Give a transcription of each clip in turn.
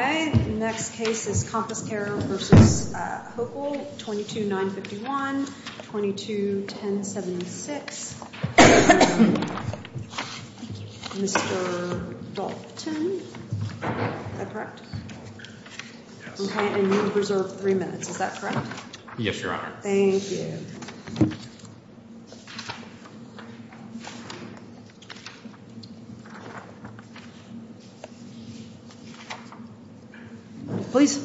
22-951, 22-1076. Mr. Dalton, is that correct? Okay, and you have reserved three minutes. Is that correct? Yes, Your Honor. Thank you. Please.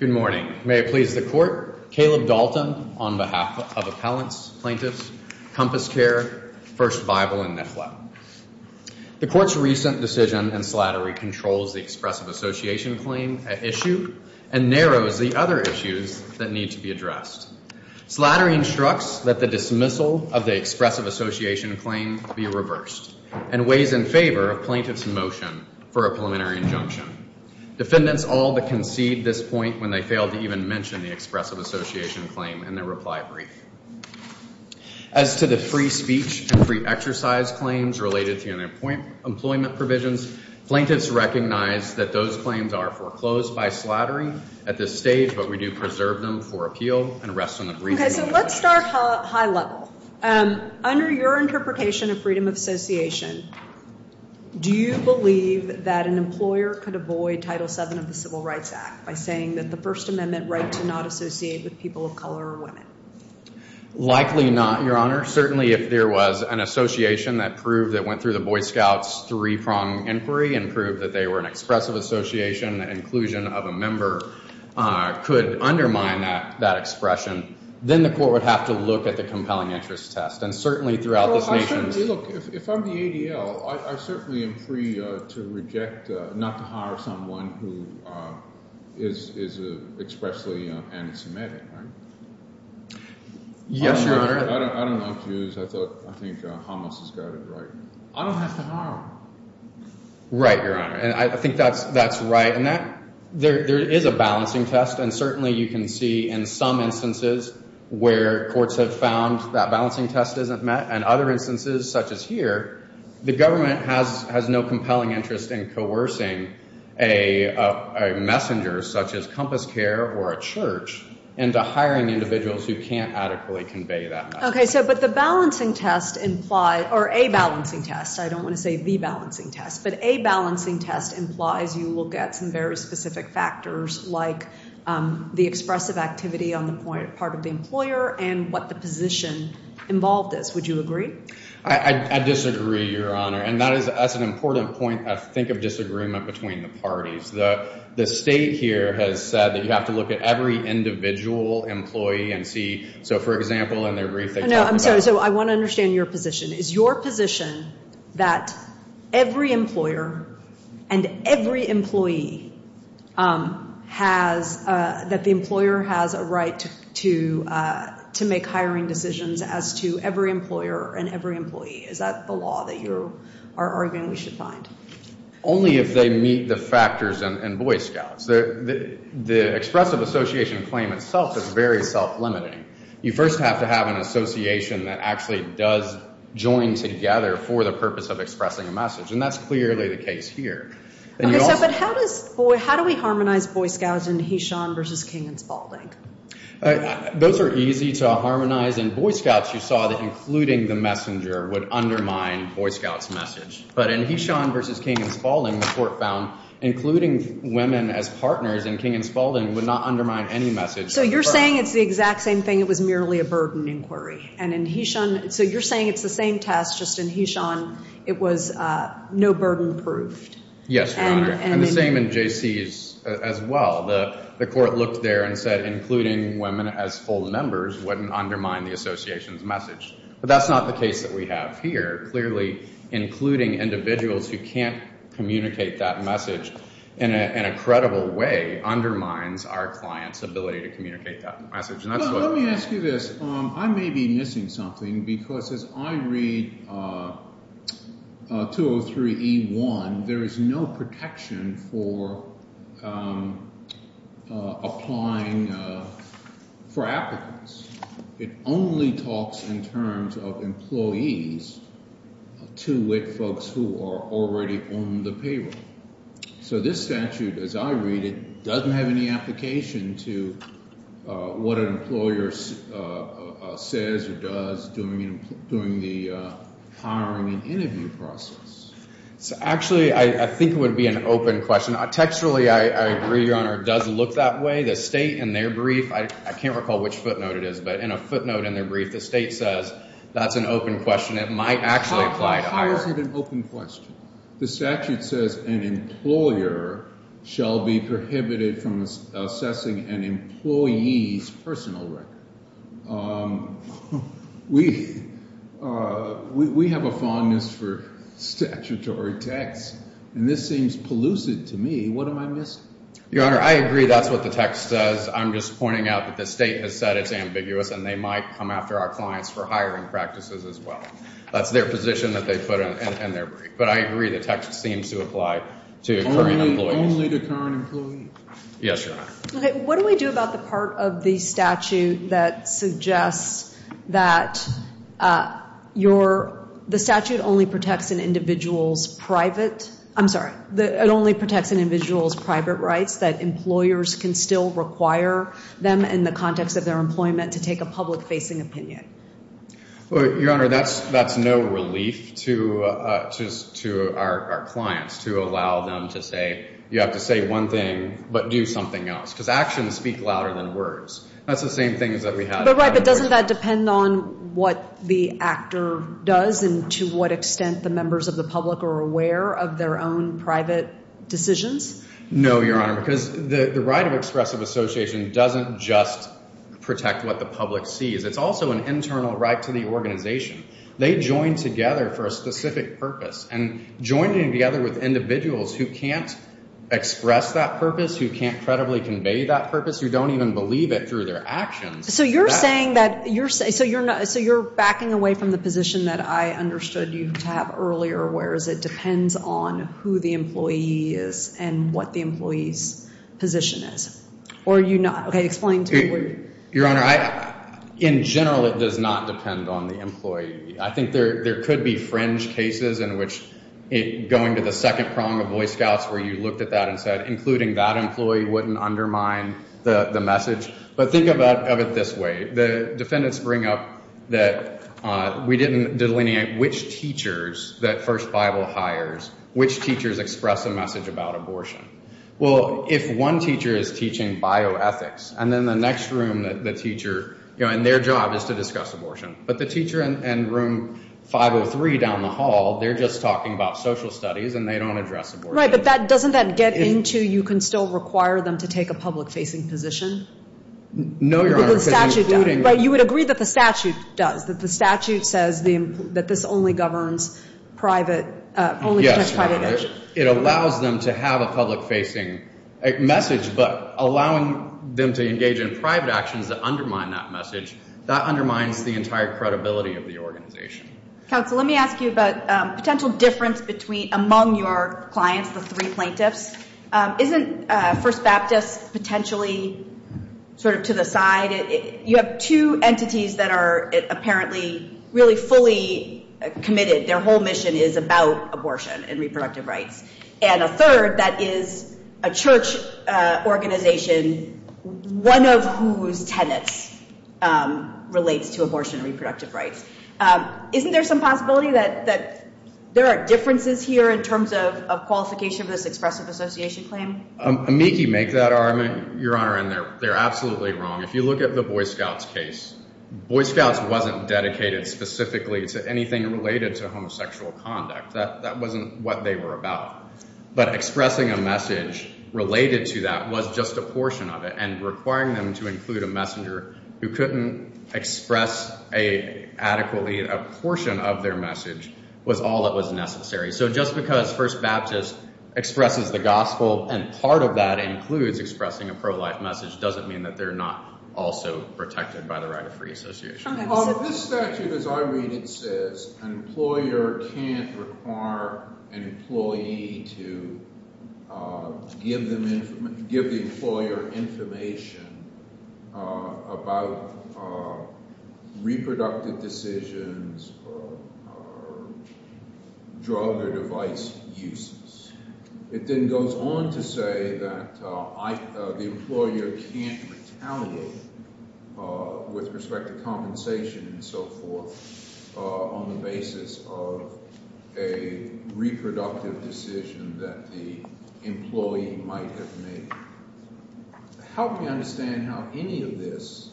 Good morning. May it please the Court. Caleb Dalton on behalf of appellants, plaintiffs, CompassCare, First Bible, and NIFLA. The Court's recent decision in slattery controls the expressive association claim issue and narrows the other issues that need to be addressed. Slattery instructs that the dismissal of the expressive association claim be reversed and weighs in favor of plaintiffs' motion for a preliminary injunction. Defendants all but concede this point when they fail to even mention the expressive association claim in their reply brief. As to the free speech and free exercise claims related to employment provisions, plaintiffs recognize that those claims are foreclosed by slattery at this stage, but we do preserve them for appeal and rest on the briefing. Okay, so let's start high level. Under your interpretation of freedom of association, do you believe that an employer could avoid Title VII of the Civil Rights Act by saying that the First Amendment right to not associate with people of color or women? Likely not, Your Honor. Certainly if there was an association that proved that went through the Boy Scouts' three-pronged inquiry and proved that they were an expressive association, inclusion of a member could undermine that expression. Then the Court would have to look at the compelling interest test. And certainly throughout this nation's... Yes, Your Honor. I don't accuse. I think Hamas has got it right. I don't have to harm. Right, Your Honor. And I think that's right. And there is a balancing test. And certainly you can see in some instances where courts have found that balancing test isn't met and other instances such as here, the government has no compelling interest in coercing a messenger such as Compass Care or a church into hiring individuals who can't adequately convey that message. Okay, so but the balancing test implies, or a balancing test, I don't want to say the balancing test, but a balancing test implies you look at some very specific factors like the expressive activity on the part of the employer and what the position involved is. Would you agree? I disagree, Your Honor. And that is an important point, I think, of disagreement between the parties. The state here has said that you have to look at every individual employee and see. So, for example, in their brief, they talk about... No, I'm sorry. So I want to understand your position. Is your position that every employer and every employee has, that the employer has a right to make hiring decisions as to every employer and every employee? Is that the law that you are arguing we should find? Only if they meet the factors in Boy Scouts. The expressive association claim itself is very self-limiting. You first have to have an association that actually does join together for the purpose of expressing a message. And that's clearly the case here. Okay, so but how do we harmonize Boy Scouts in Heshaun v. King and Spaulding? Those are easy to harmonize. In Boy Scouts, you saw that including the messenger would undermine Boy Scouts' message. But in Heshaun v. King and Spaulding, the court found including women as partners in King and Spaulding would not undermine any message. So you're saying it's the exact same thing. It was merely a burden inquiry. And in Heshaun, so you're saying it's the same test, just in Heshaun it was no burden proofed. Yes, Your Honor. And the same in J.C.'s as well. The court looked there and said including women as full members wouldn't undermine the association's message. But that's not the case that we have here. Clearly, including individuals who can't communicate that message in a credible way undermines our client's ability to communicate that message. Let me ask you this. I may be missing something because as I read 203E1, there is no protection for applying for applicants. It only talks in terms of employees to WIC folks who are already on the payroll. So this statute, as I read it, doesn't have any application to what an employer says or does during the hiring and interview process. Actually, I think it would be an open question. Textually, I agree, Your Honor. It does look that way. The state, in their brief, I can't recall which footnote it is, but in a footnote in their brief, the state says that's an open question. It might actually apply to hiring. How is it an open question? The statute says an employer shall be prohibited from assessing an employee's personal record. We have a fondness for statutory text, and this seems pellucid to me. What am I missing? Your Honor, I agree that's what the text says. I'm just pointing out that the state has said it's ambiguous, and they might come after our clients for hiring practices as well. That's their position that they put in their brief. But I agree the text seems to apply to current employees. Only to current employees? Yes, Your Honor. What do we do about the part of the statute that suggests that the statute only protects an individual's private rights, that employers can still require them in the context of their employment to take a public-facing opinion? Well, Your Honor, that's no relief to our clients, to allow them to say you have to say one thing but do something else. Because actions speak louder than words. That's the same thing that we had. But doesn't that depend on what the actor does and to what extent the members of the public are aware of their own private decisions? No, Your Honor, because the right of expressive association doesn't just protect what the public sees. It's also an internal right to the organization. They join together for a specific purpose. And joining together with individuals who can't express that purpose, who can't credibly convey that purpose, who don't even believe it through their actions. So you're saying that you're backing away from the position that I understood you to have earlier, whereas it depends on who the employee is and what the employee's position is. Or are you not? Okay, explain to me. Your Honor, in general it does not depend on the employee. I think there could be fringe cases in which going to the second prong of Boy Scouts where you looked at that and said including that employee wouldn't undermine the message. But think of it this way. The defendants bring up that we didn't delineate which teachers that First Bible hires, which teachers express a message about abortion. Well, if one teacher is teaching bioethics and then the next room, the teacher, and their job is to discuss abortion. But the teacher in room 503 down the hall, they're just talking about social studies and they don't address abortion. Right, but doesn't that get into you can still require them to take a public-facing position? No, Your Honor. But you would agree that the statute does, that the statute says that this only governs private, only protects private action. It allows them to have a public-facing message, but allowing them to engage in private actions that undermine that message, that undermines the entire credibility of the organization. Counsel, let me ask you about potential difference between among your clients, the three plaintiffs. Isn't First Baptist potentially sort of to the side? You have two entities that are apparently really fully committed. Their whole mission is about abortion and reproductive rights. And a third that is a church organization, one of whose tenets relates to abortion and reproductive rights. Isn't there some possibility that there are differences here in terms of qualification of this expressive association claim? Amici make that argument, Your Honor, and they're absolutely wrong. If you look at the Boy Scouts case, Boy Scouts wasn't dedicated specifically to anything related to homosexual conduct. That wasn't what they were about. But expressing a message related to that was just a portion of it, and requiring them to include a messenger who couldn't express adequately a portion of their message was all that was necessary. So just because First Baptist expresses the gospel and part of that includes expressing a pro-life message doesn't mean that they're not also protected by the right of free association. This statute, as I read it, says an employer can't require an employee to give the employer information about reproductive decisions or drug or device uses. It then goes on to say that the employer can't retaliate with respect to compensation and so forth on the basis of a reproductive decision that the employee might have made. Help me understand how any of this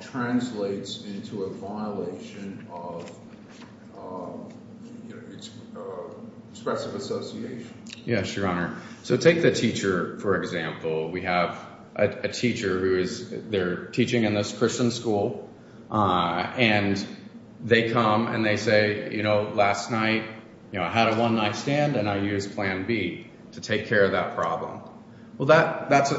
translates into a violation of expressive association. Yes, Your Honor. So take the teacher, for example. We have a teacher who is teaching in this Christian school, and they come and they say, you know, last night I had a one-night stand and I used Plan B to take care of that problem. Well, that's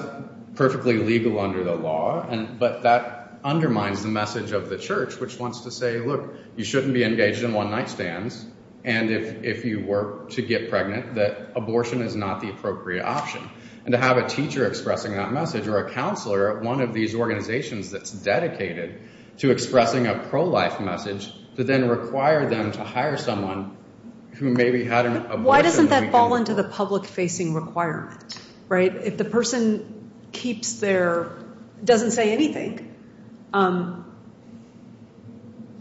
perfectly legal under the law, but that undermines the message of the church, which wants to say, look, you shouldn't be engaged in one-night stands, and if you were to get pregnant, that abortion is not the appropriate option. And to have a teacher expressing that message or a counselor at one of these organizations that's dedicated to expressing a pro-life message to then require them to hire someone who maybe had an abortion. Why doesn't that fall into the public-facing requirement, right? If the person keeps their, doesn't say anything,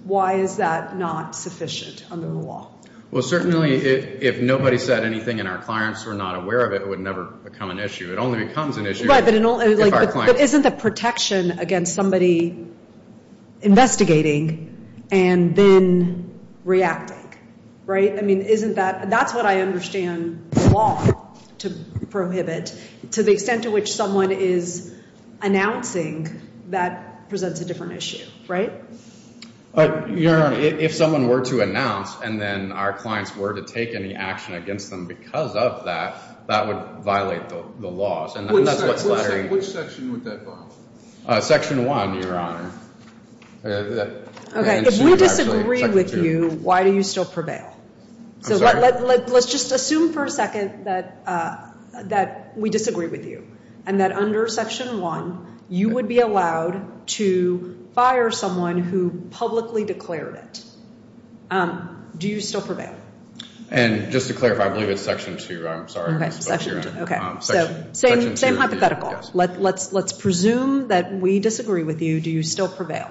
why is that not sufficient under the law? Well, certainly if nobody said anything and our clients were not aware of it, it would never become an issue. It only becomes an issue if our clients. against somebody investigating and then reacting, right? I mean, isn't that, that's what I understand the law to prohibit. To the extent to which someone is announcing, that presents a different issue, right? Your Honor, if someone were to announce and then our clients were to take any action against them because of that, that would violate the laws. Which section would that violate? Section 1, Your Honor. Okay, if we disagree with you, why do you still prevail? So let's just assume for a second that we disagree with you and that under Section 1 you would be allowed to fire someone who publicly declared it. Do you still prevail? And just to clarify, I believe it's Section 2, Your Honor. Okay, so same hypothetical. Let's presume that we disagree with you. Do you still prevail?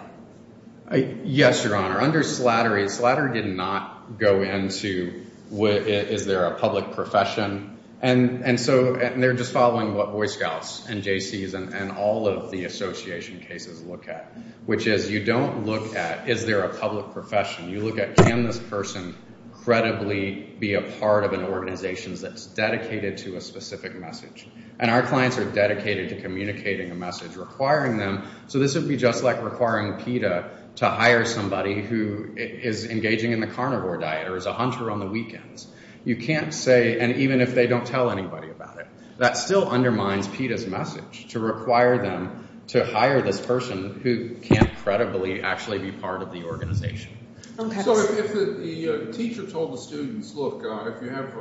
Yes, Your Honor. Under Slattery, Slattery did not go into is there a public profession. And so they're just following what Boy Scouts and JCs and all of the association cases look at, which is you don't look at is there a public profession. You look at can this person credibly be a part of an organization that's dedicated to a specific message. And our clients are dedicated to communicating a message, requiring them. So this would be just like requiring PETA to hire somebody who is engaging in the carnivore diet or is a hunter on the weekends. You can't say, and even if they don't tell anybody about it, that still undermines PETA's message to require them to hire this person who can't credibly actually be part of the organization. So if the teacher told the students, look, if you have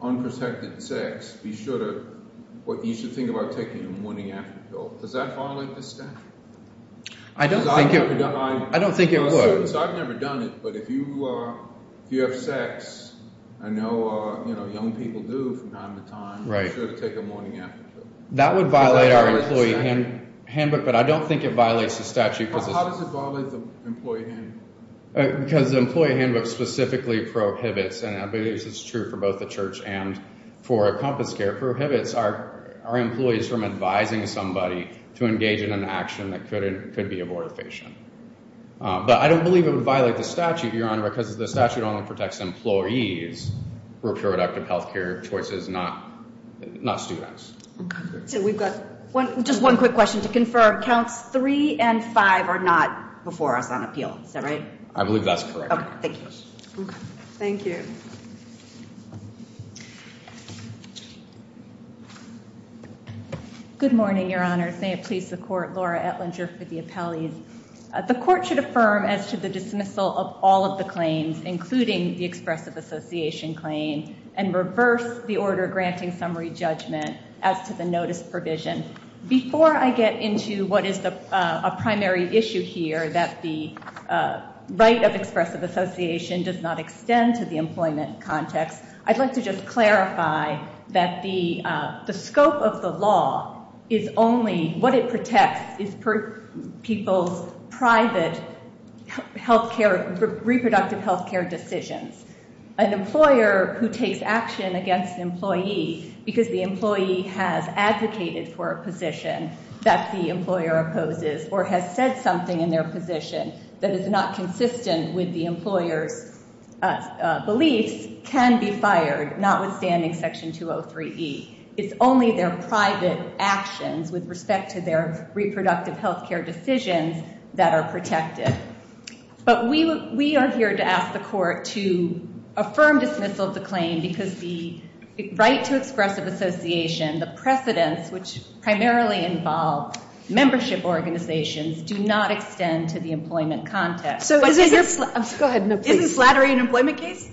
unprotected sex, be sure to what you should think about taking a morning after pill. Does that violate the statute? I don't think it would. I've never done it, but if you have sex, I know young people do from time to time, be sure to take a morning after pill. That would violate our employee handbook, but I don't think it violates the statute. How does it violate the employee handbook? Because the employee handbook specifically prohibits, and I believe this is true for both the church and for Compass Care, prohibits our employees from advising somebody to engage in an action that could be abortifacient. Because the statute only protects employees who are a product of health care choices, not students. So we've got just one quick question to confirm. Counts three and five are not before us on appeal. Is that right? I believe that's correct. Thank you. Good morning, Your Honor. May it please the Court. Laura Etlinger for the appellees. The Court should affirm as to the dismissal of all of the claims, including the expressive association claim, and reverse the order granting summary judgment as to the notice provision. Before I get into what is a primary issue here, that the right of expressive association does not extend to the employment context, I'd like to just clarify that the scope of the law is only, what it protects is people's private health care, reproductive health care decisions. An employer who takes action against an employee because the employee has advocated for a position that the employer opposes or has said something in their position that is not consistent with the employer's beliefs can be fired, notwithstanding Section 203E. It's only their private actions with respect to their reproductive health care decisions that are protected. But we are here to ask the Court to affirm dismissal of the claim because the right to expressive association, the precedents, which primarily involve membership organizations, do not extend to the employment context. Go ahead. Is the slattery an employment case?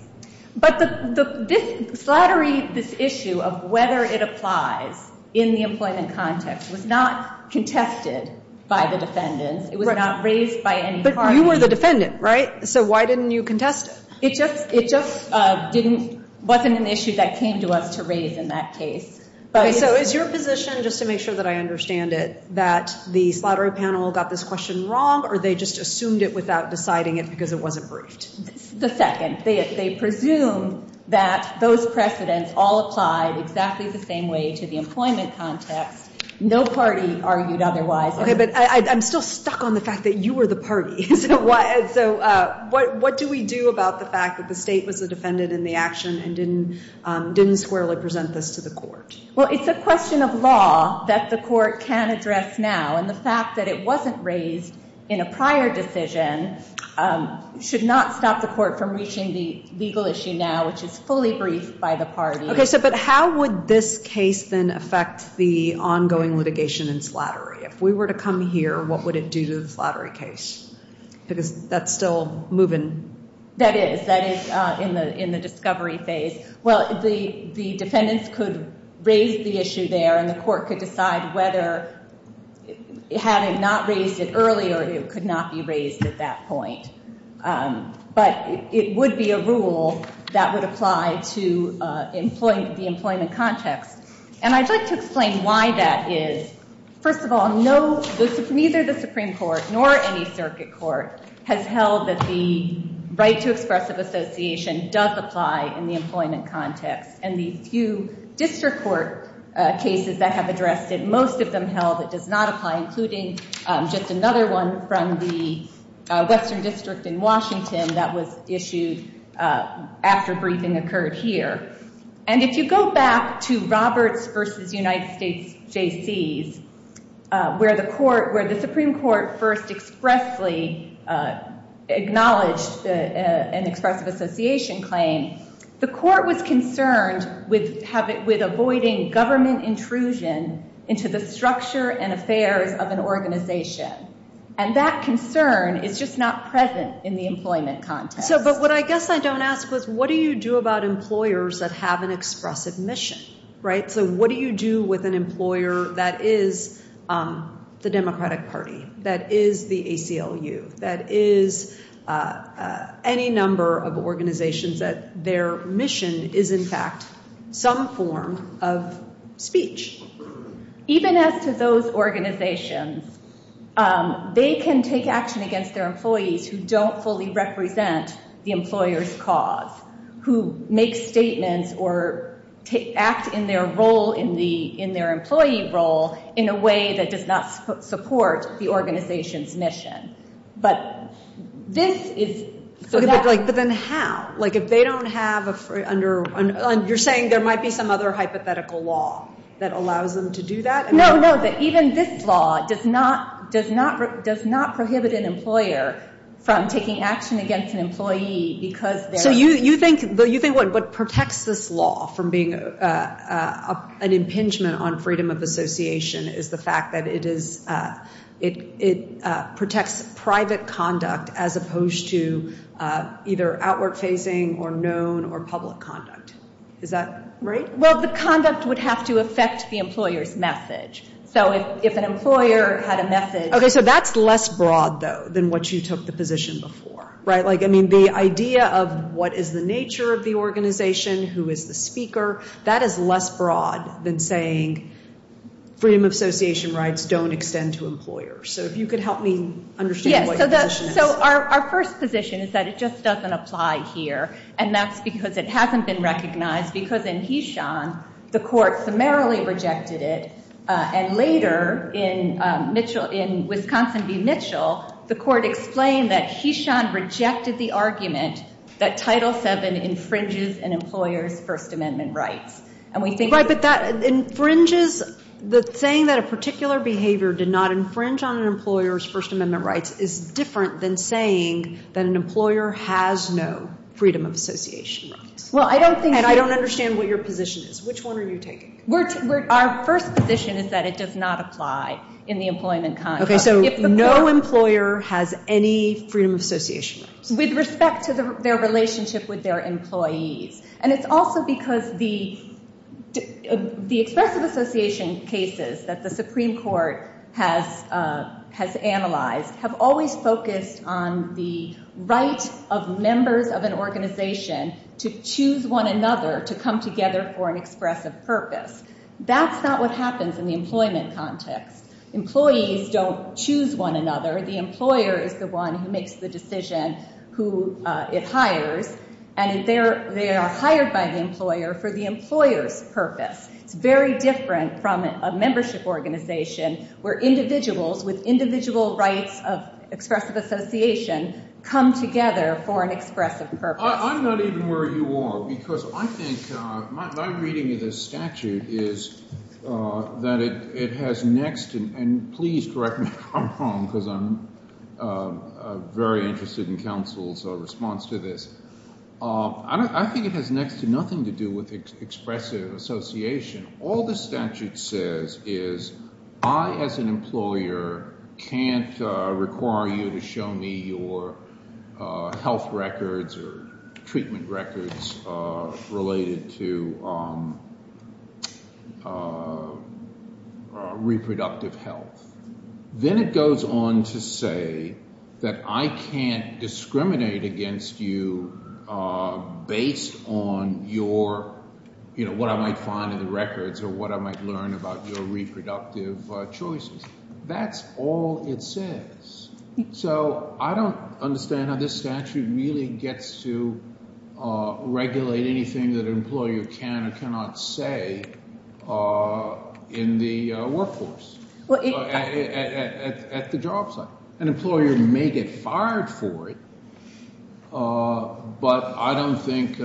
But the slattery, this issue of whether it applies in the employment context was not contested by the defendants. It was not raised by any party. But you were the defendant, right? So why didn't you contest it? It just didn't, wasn't an issue that came to us to raise in that case. So is your position, just to make sure that I understand it, that the slattery panel got this question wrong or they just assumed it without deciding it because it wasn't briefed? The second. They presume that those precedents all applied exactly the same way to the employment context. No party argued otherwise. Okay, but I'm still stuck on the fact that you were the party. So what do we do about the fact that the State was the defendant in the action and didn't squarely present this to the Court? Well, it's a question of law that the Court can address now. And the fact that it wasn't raised in a prior decision should not stop the Court from reaching the legal issue now, which is fully briefed by the party. Okay, but how would this case then affect the ongoing litigation and slattery? If we were to come here, what would it do to the slattery case? Because that's still moving. That is. That is in the discovery phase. Well, the defendants could raise the issue there, and the Court could decide whether, had it not raised it earlier, it could not be raised at that point. But it would be a rule that would apply to the employment context. And I'd like to explain why that is. First of all, neither the Supreme Court nor any circuit court has held that the right to expressive association does apply in the employment context. And the few district court cases that have addressed it, most of them held it does not apply, including just another one from the Western District in Washington that was issued after briefing occurred here. And if you go back to Roberts v. United States Jaycees, where the Supreme Court first expressly acknowledged an expressive association claim, the Court was concerned with avoiding government intrusion into the structure and affairs of an organization. And that concern is just not present in the employment context. But what I guess I don't ask was, what do you do about employers that have an expressive mission? So what do you do with an employer that is the Democratic Party, that is the ACLU, that is any number of organizations that their mission is, in fact, some form of speech? Even as to those organizations, they can take action against their employees who don't fully represent the employer's cause, who make statements or act in their role, in their employee role, in a way that does not support the organization's mission. But this is so that- But then how? Like if they don't have a- You're saying there might be some other hypothetical law that allows them to do that? No, no, that even this law does not prohibit an employer from taking action against an employee because they're- So you think what protects this law from being an impingement on freedom of association is the fact that it is- as opposed to either outward facing or known or public conduct. Is that right? Well, the conduct would have to affect the employer's message. So if an employer had a message- Okay, so that's less broad, though, than what you took the position before, right? Like, I mean, the idea of what is the nature of the organization, who is the speaker, that is less broad than saying freedom of association rights don't extend to employers. So if you could help me understand what your position is. So our first position is that it just doesn't apply here. And that's because it hasn't been recognized because in Heshaun, the court summarily rejected it. And later in Wisconsin v. Mitchell, the court explained that Heshaun rejected the argument that Title VII infringes an employer's First Amendment rights. And we think- Right, but that infringes- But saying that a particular behavior did not infringe on an employer's First Amendment rights is different than saying that an employer has no freedom of association rights. Well, I don't think- And I don't understand what your position is. Which one are you taking? Our first position is that it does not apply in the employment conduct. Okay, so no employer has any freedom of association rights. With respect to their relationship with their employees. And it's also because the expressive association cases that the Supreme Court has analyzed have always focused on the right of members of an organization to choose one another to come together for an expressive purpose. That's not what happens in the employment context. Employees don't choose one another. The employer is the one who makes the decision who it hires. And they are hired by the employer for the employer's purpose. It's very different from a membership organization where individuals with individual rights of expressive association come together for an expressive purpose. I'm not even worried you are, because I think my reading of this statute is that it has next- Please correct me if I'm wrong, because I'm very interested in counsel's response to this. I think it has next to nothing to do with expressive association. All this statute says is I, as an employer, can't require you to show me your health records or treatment records related to reproductive health. Then it goes on to say that I can't discriminate against you based on your- what I might find in the records or what I might learn about your reproductive choices. That's all it says. So I don't understand how this statute really gets to regulate anything that an employer can or cannot say in the workforce. At the job site. An employer may get fired for it, but I don't think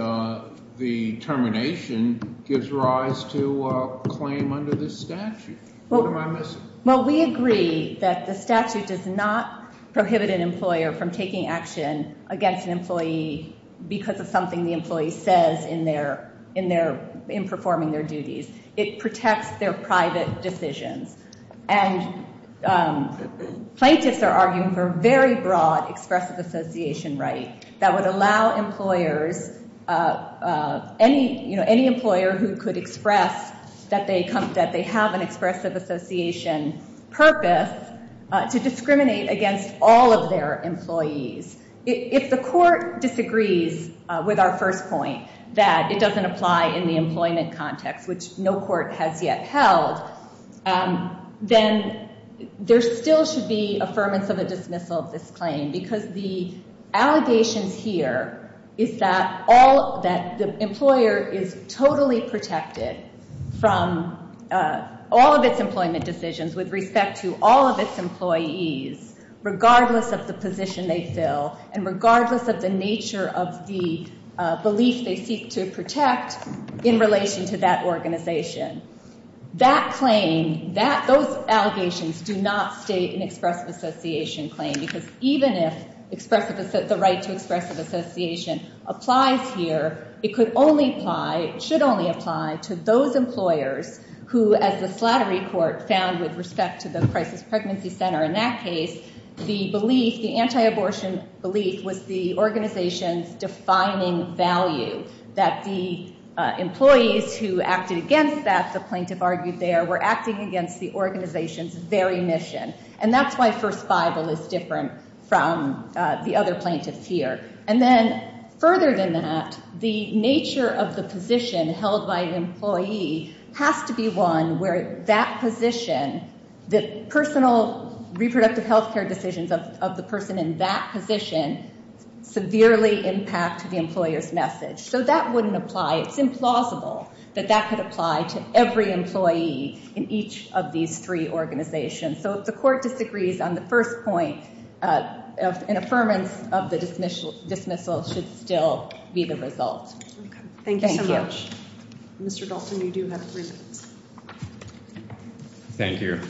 the termination gives rise to a claim under this statute. What am I missing? Well, we agree that the statute does not prohibit an employer from taking action against an employee because of something the employee says in performing their duties. It protects their private decisions. And plaintiffs are arguing for a very broad expressive association right that would allow employers- to discriminate against all of their employees. If the court disagrees with our first point that it doesn't apply in the employment context, which no court has yet held, then there still should be affirmance of a dismissal of this claim because the allegations here is that the employer is totally protected from all of its employment decisions with respect to all of its employees, regardless of the position they fill and regardless of the nature of the belief they seek to protect in relation to that organization. Those allegations do not state an expressive association claim because even if the right to expressive association applies here, it should only apply to those employers who, as the Slattery Court found with respect to the Crisis Pregnancy Center in that case, the anti-abortion belief was the organization's defining value. That the employees who acted against that, the plaintiff argued there, were acting against the organization's very mission. And that's why First Bible is different from the other plaintiffs here. And then further than that, the nature of the position held by an employee has to be one where that position, the personal reproductive health care decisions of the person in that position, severely impact the employer's message. So that wouldn't apply. It's implausible that that could apply to every employee in each of these three organizations. So if the court disagrees on the first point, an affirmance of the dismissal should still be the result. Thank you so much. Mr. Dalton, you do have three minutes. Thank you.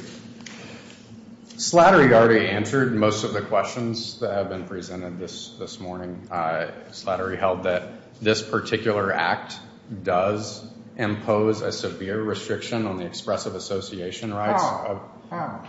Slattery already answered most of the questions that have been presented this morning. Slattery held that this particular act does impose a severe restriction on the expressive association rights. How? How?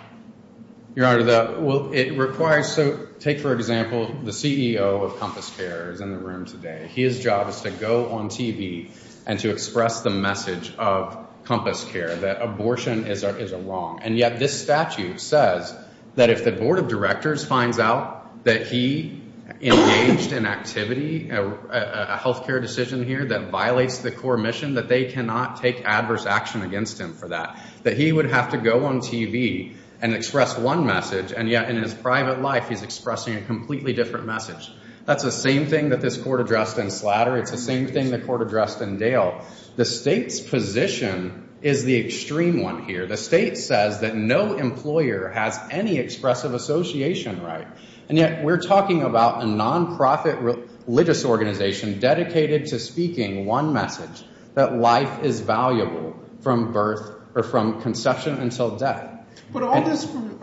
Your Honor, it requires to take, for example, the CEO of Compass Care is in the room today. His job is to go on TV and to express the message of Compass Care that abortion is a wrong. And yet this statute says that if the board of directors finds out that he engaged in activity, a health care decision here that violates the core mission, that they cannot take adverse action against him for that. That he would have to go on TV and express one message, and yet in his private life he's expressing a completely different message. That's the same thing that this court addressed in Slattery. It's the same thing the court addressed in Dale. The state's position is the extreme one here. The state says that no employer has any expressive association right. And yet we're talking about a nonprofit religious organization dedicated to speaking one message, that life is valuable from birth or from conception until death. But all this, you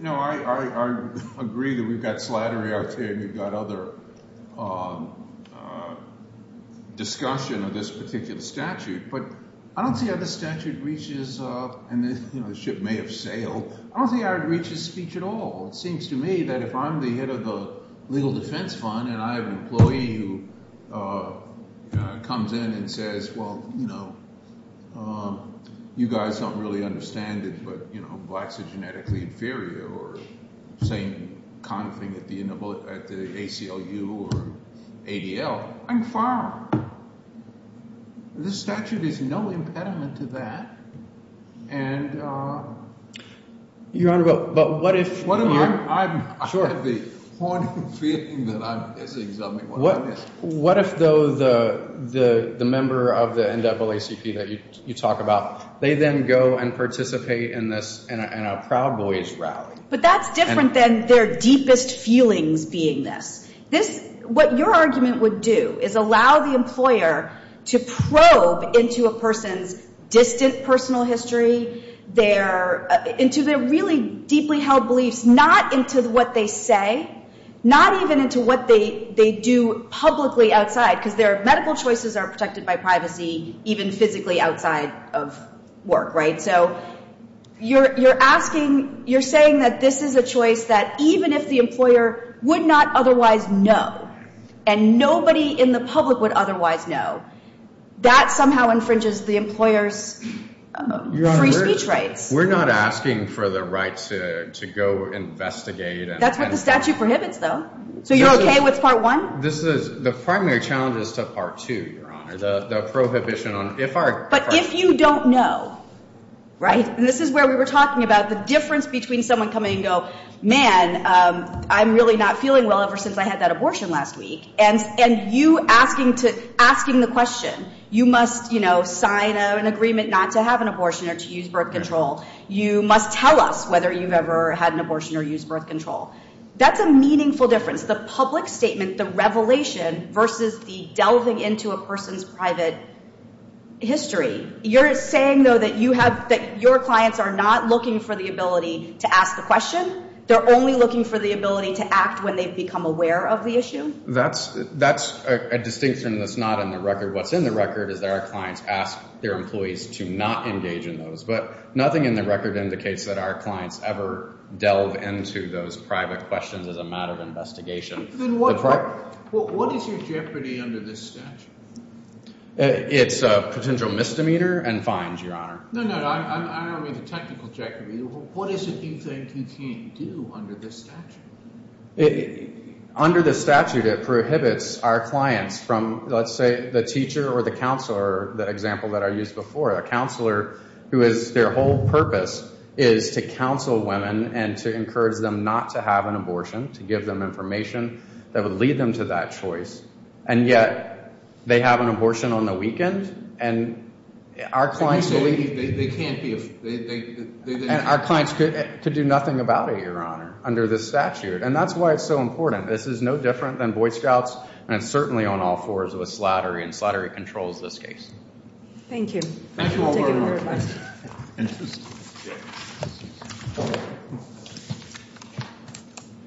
know, I agree that we've got Slattery, Arte, and we've got other discussion of this particular statute. But I don't see how this statute reaches – and, you know, the ship may have sailed. I don't see how it reaches speech at all. It seems to me that if I'm the head of the Legal Defense Fund and I have an employee who comes in and says, well, you know, you guys don't really understand it, but, you know, blacks are genetically inferior or saying kind of thing at the ACLU or ADL, I'm fine. This statute is no impediment to that. And – Your Honor, but what if – I have the haunting feeling that I'm missing something. What if, though, the member of the NAACP that you talk about, they then go and participate in this – in a Proud Boys rally? But that's different than their deepest feelings being this. This – what your argument would do is allow the employer to probe into a person's distant personal history, their – into their really deeply held beliefs, not into what they say, not even into what they do publicly outside because their medical choices are protected by privacy even physically outside of work, right? So you're asking – you're saying that this is a choice that even if the employer would not otherwise know and nobody in the public would otherwise know, that somehow infringes the employer's free speech rights. Your Honor, we're not asking for the right to go investigate and – That's what the statute prohibits, though. So you're okay with Part 1? This is – the primary challenge is to Part 2, Your Honor, the prohibition on – if our – But if you don't know, right? And this is where we were talking about the difference between someone coming and going, man, I'm really not feeling well ever since I had that abortion last week, and you asking to – asking the question, you must, you know, sign an agreement not to have an abortion or to use birth control. You must tell us whether you've ever had an abortion or used birth control. That's a meaningful difference, the public statement, the revelation versus the delving into a person's private history. You're saying, though, that you have – that your clients are not looking for the ability to ask the question? They're only looking for the ability to act when they've become aware of the issue? That's a distinction that's not in the record. What's in the record is that our clients ask their employees to not engage in those. But nothing in the record indicates that our clients ever delve into those private questions as a matter of investigation. Then what is your jeopardy under this statute? It's a potential misdemeanor and fines, Your Honor. No, no. I don't mean the technical jeopardy. What is it you think you can't do under this statute? Under the statute, it prohibits our clients from, let's say, the teacher or the counselor, the example that I used before, a counselor who is – their whole purpose is to counsel women and to encourage them not to have an abortion, to give them information that would lead them to that choice. And yet they have an abortion on the weekend, and our clients believe – They can't be – And our clients could do nothing about it, Your Honor, under this statute. And that's why it's so important. This is no different than Boy Scouts, and it's certainly on all fours with slattery, and slattery controls this case. Thank you. Thank you all very much.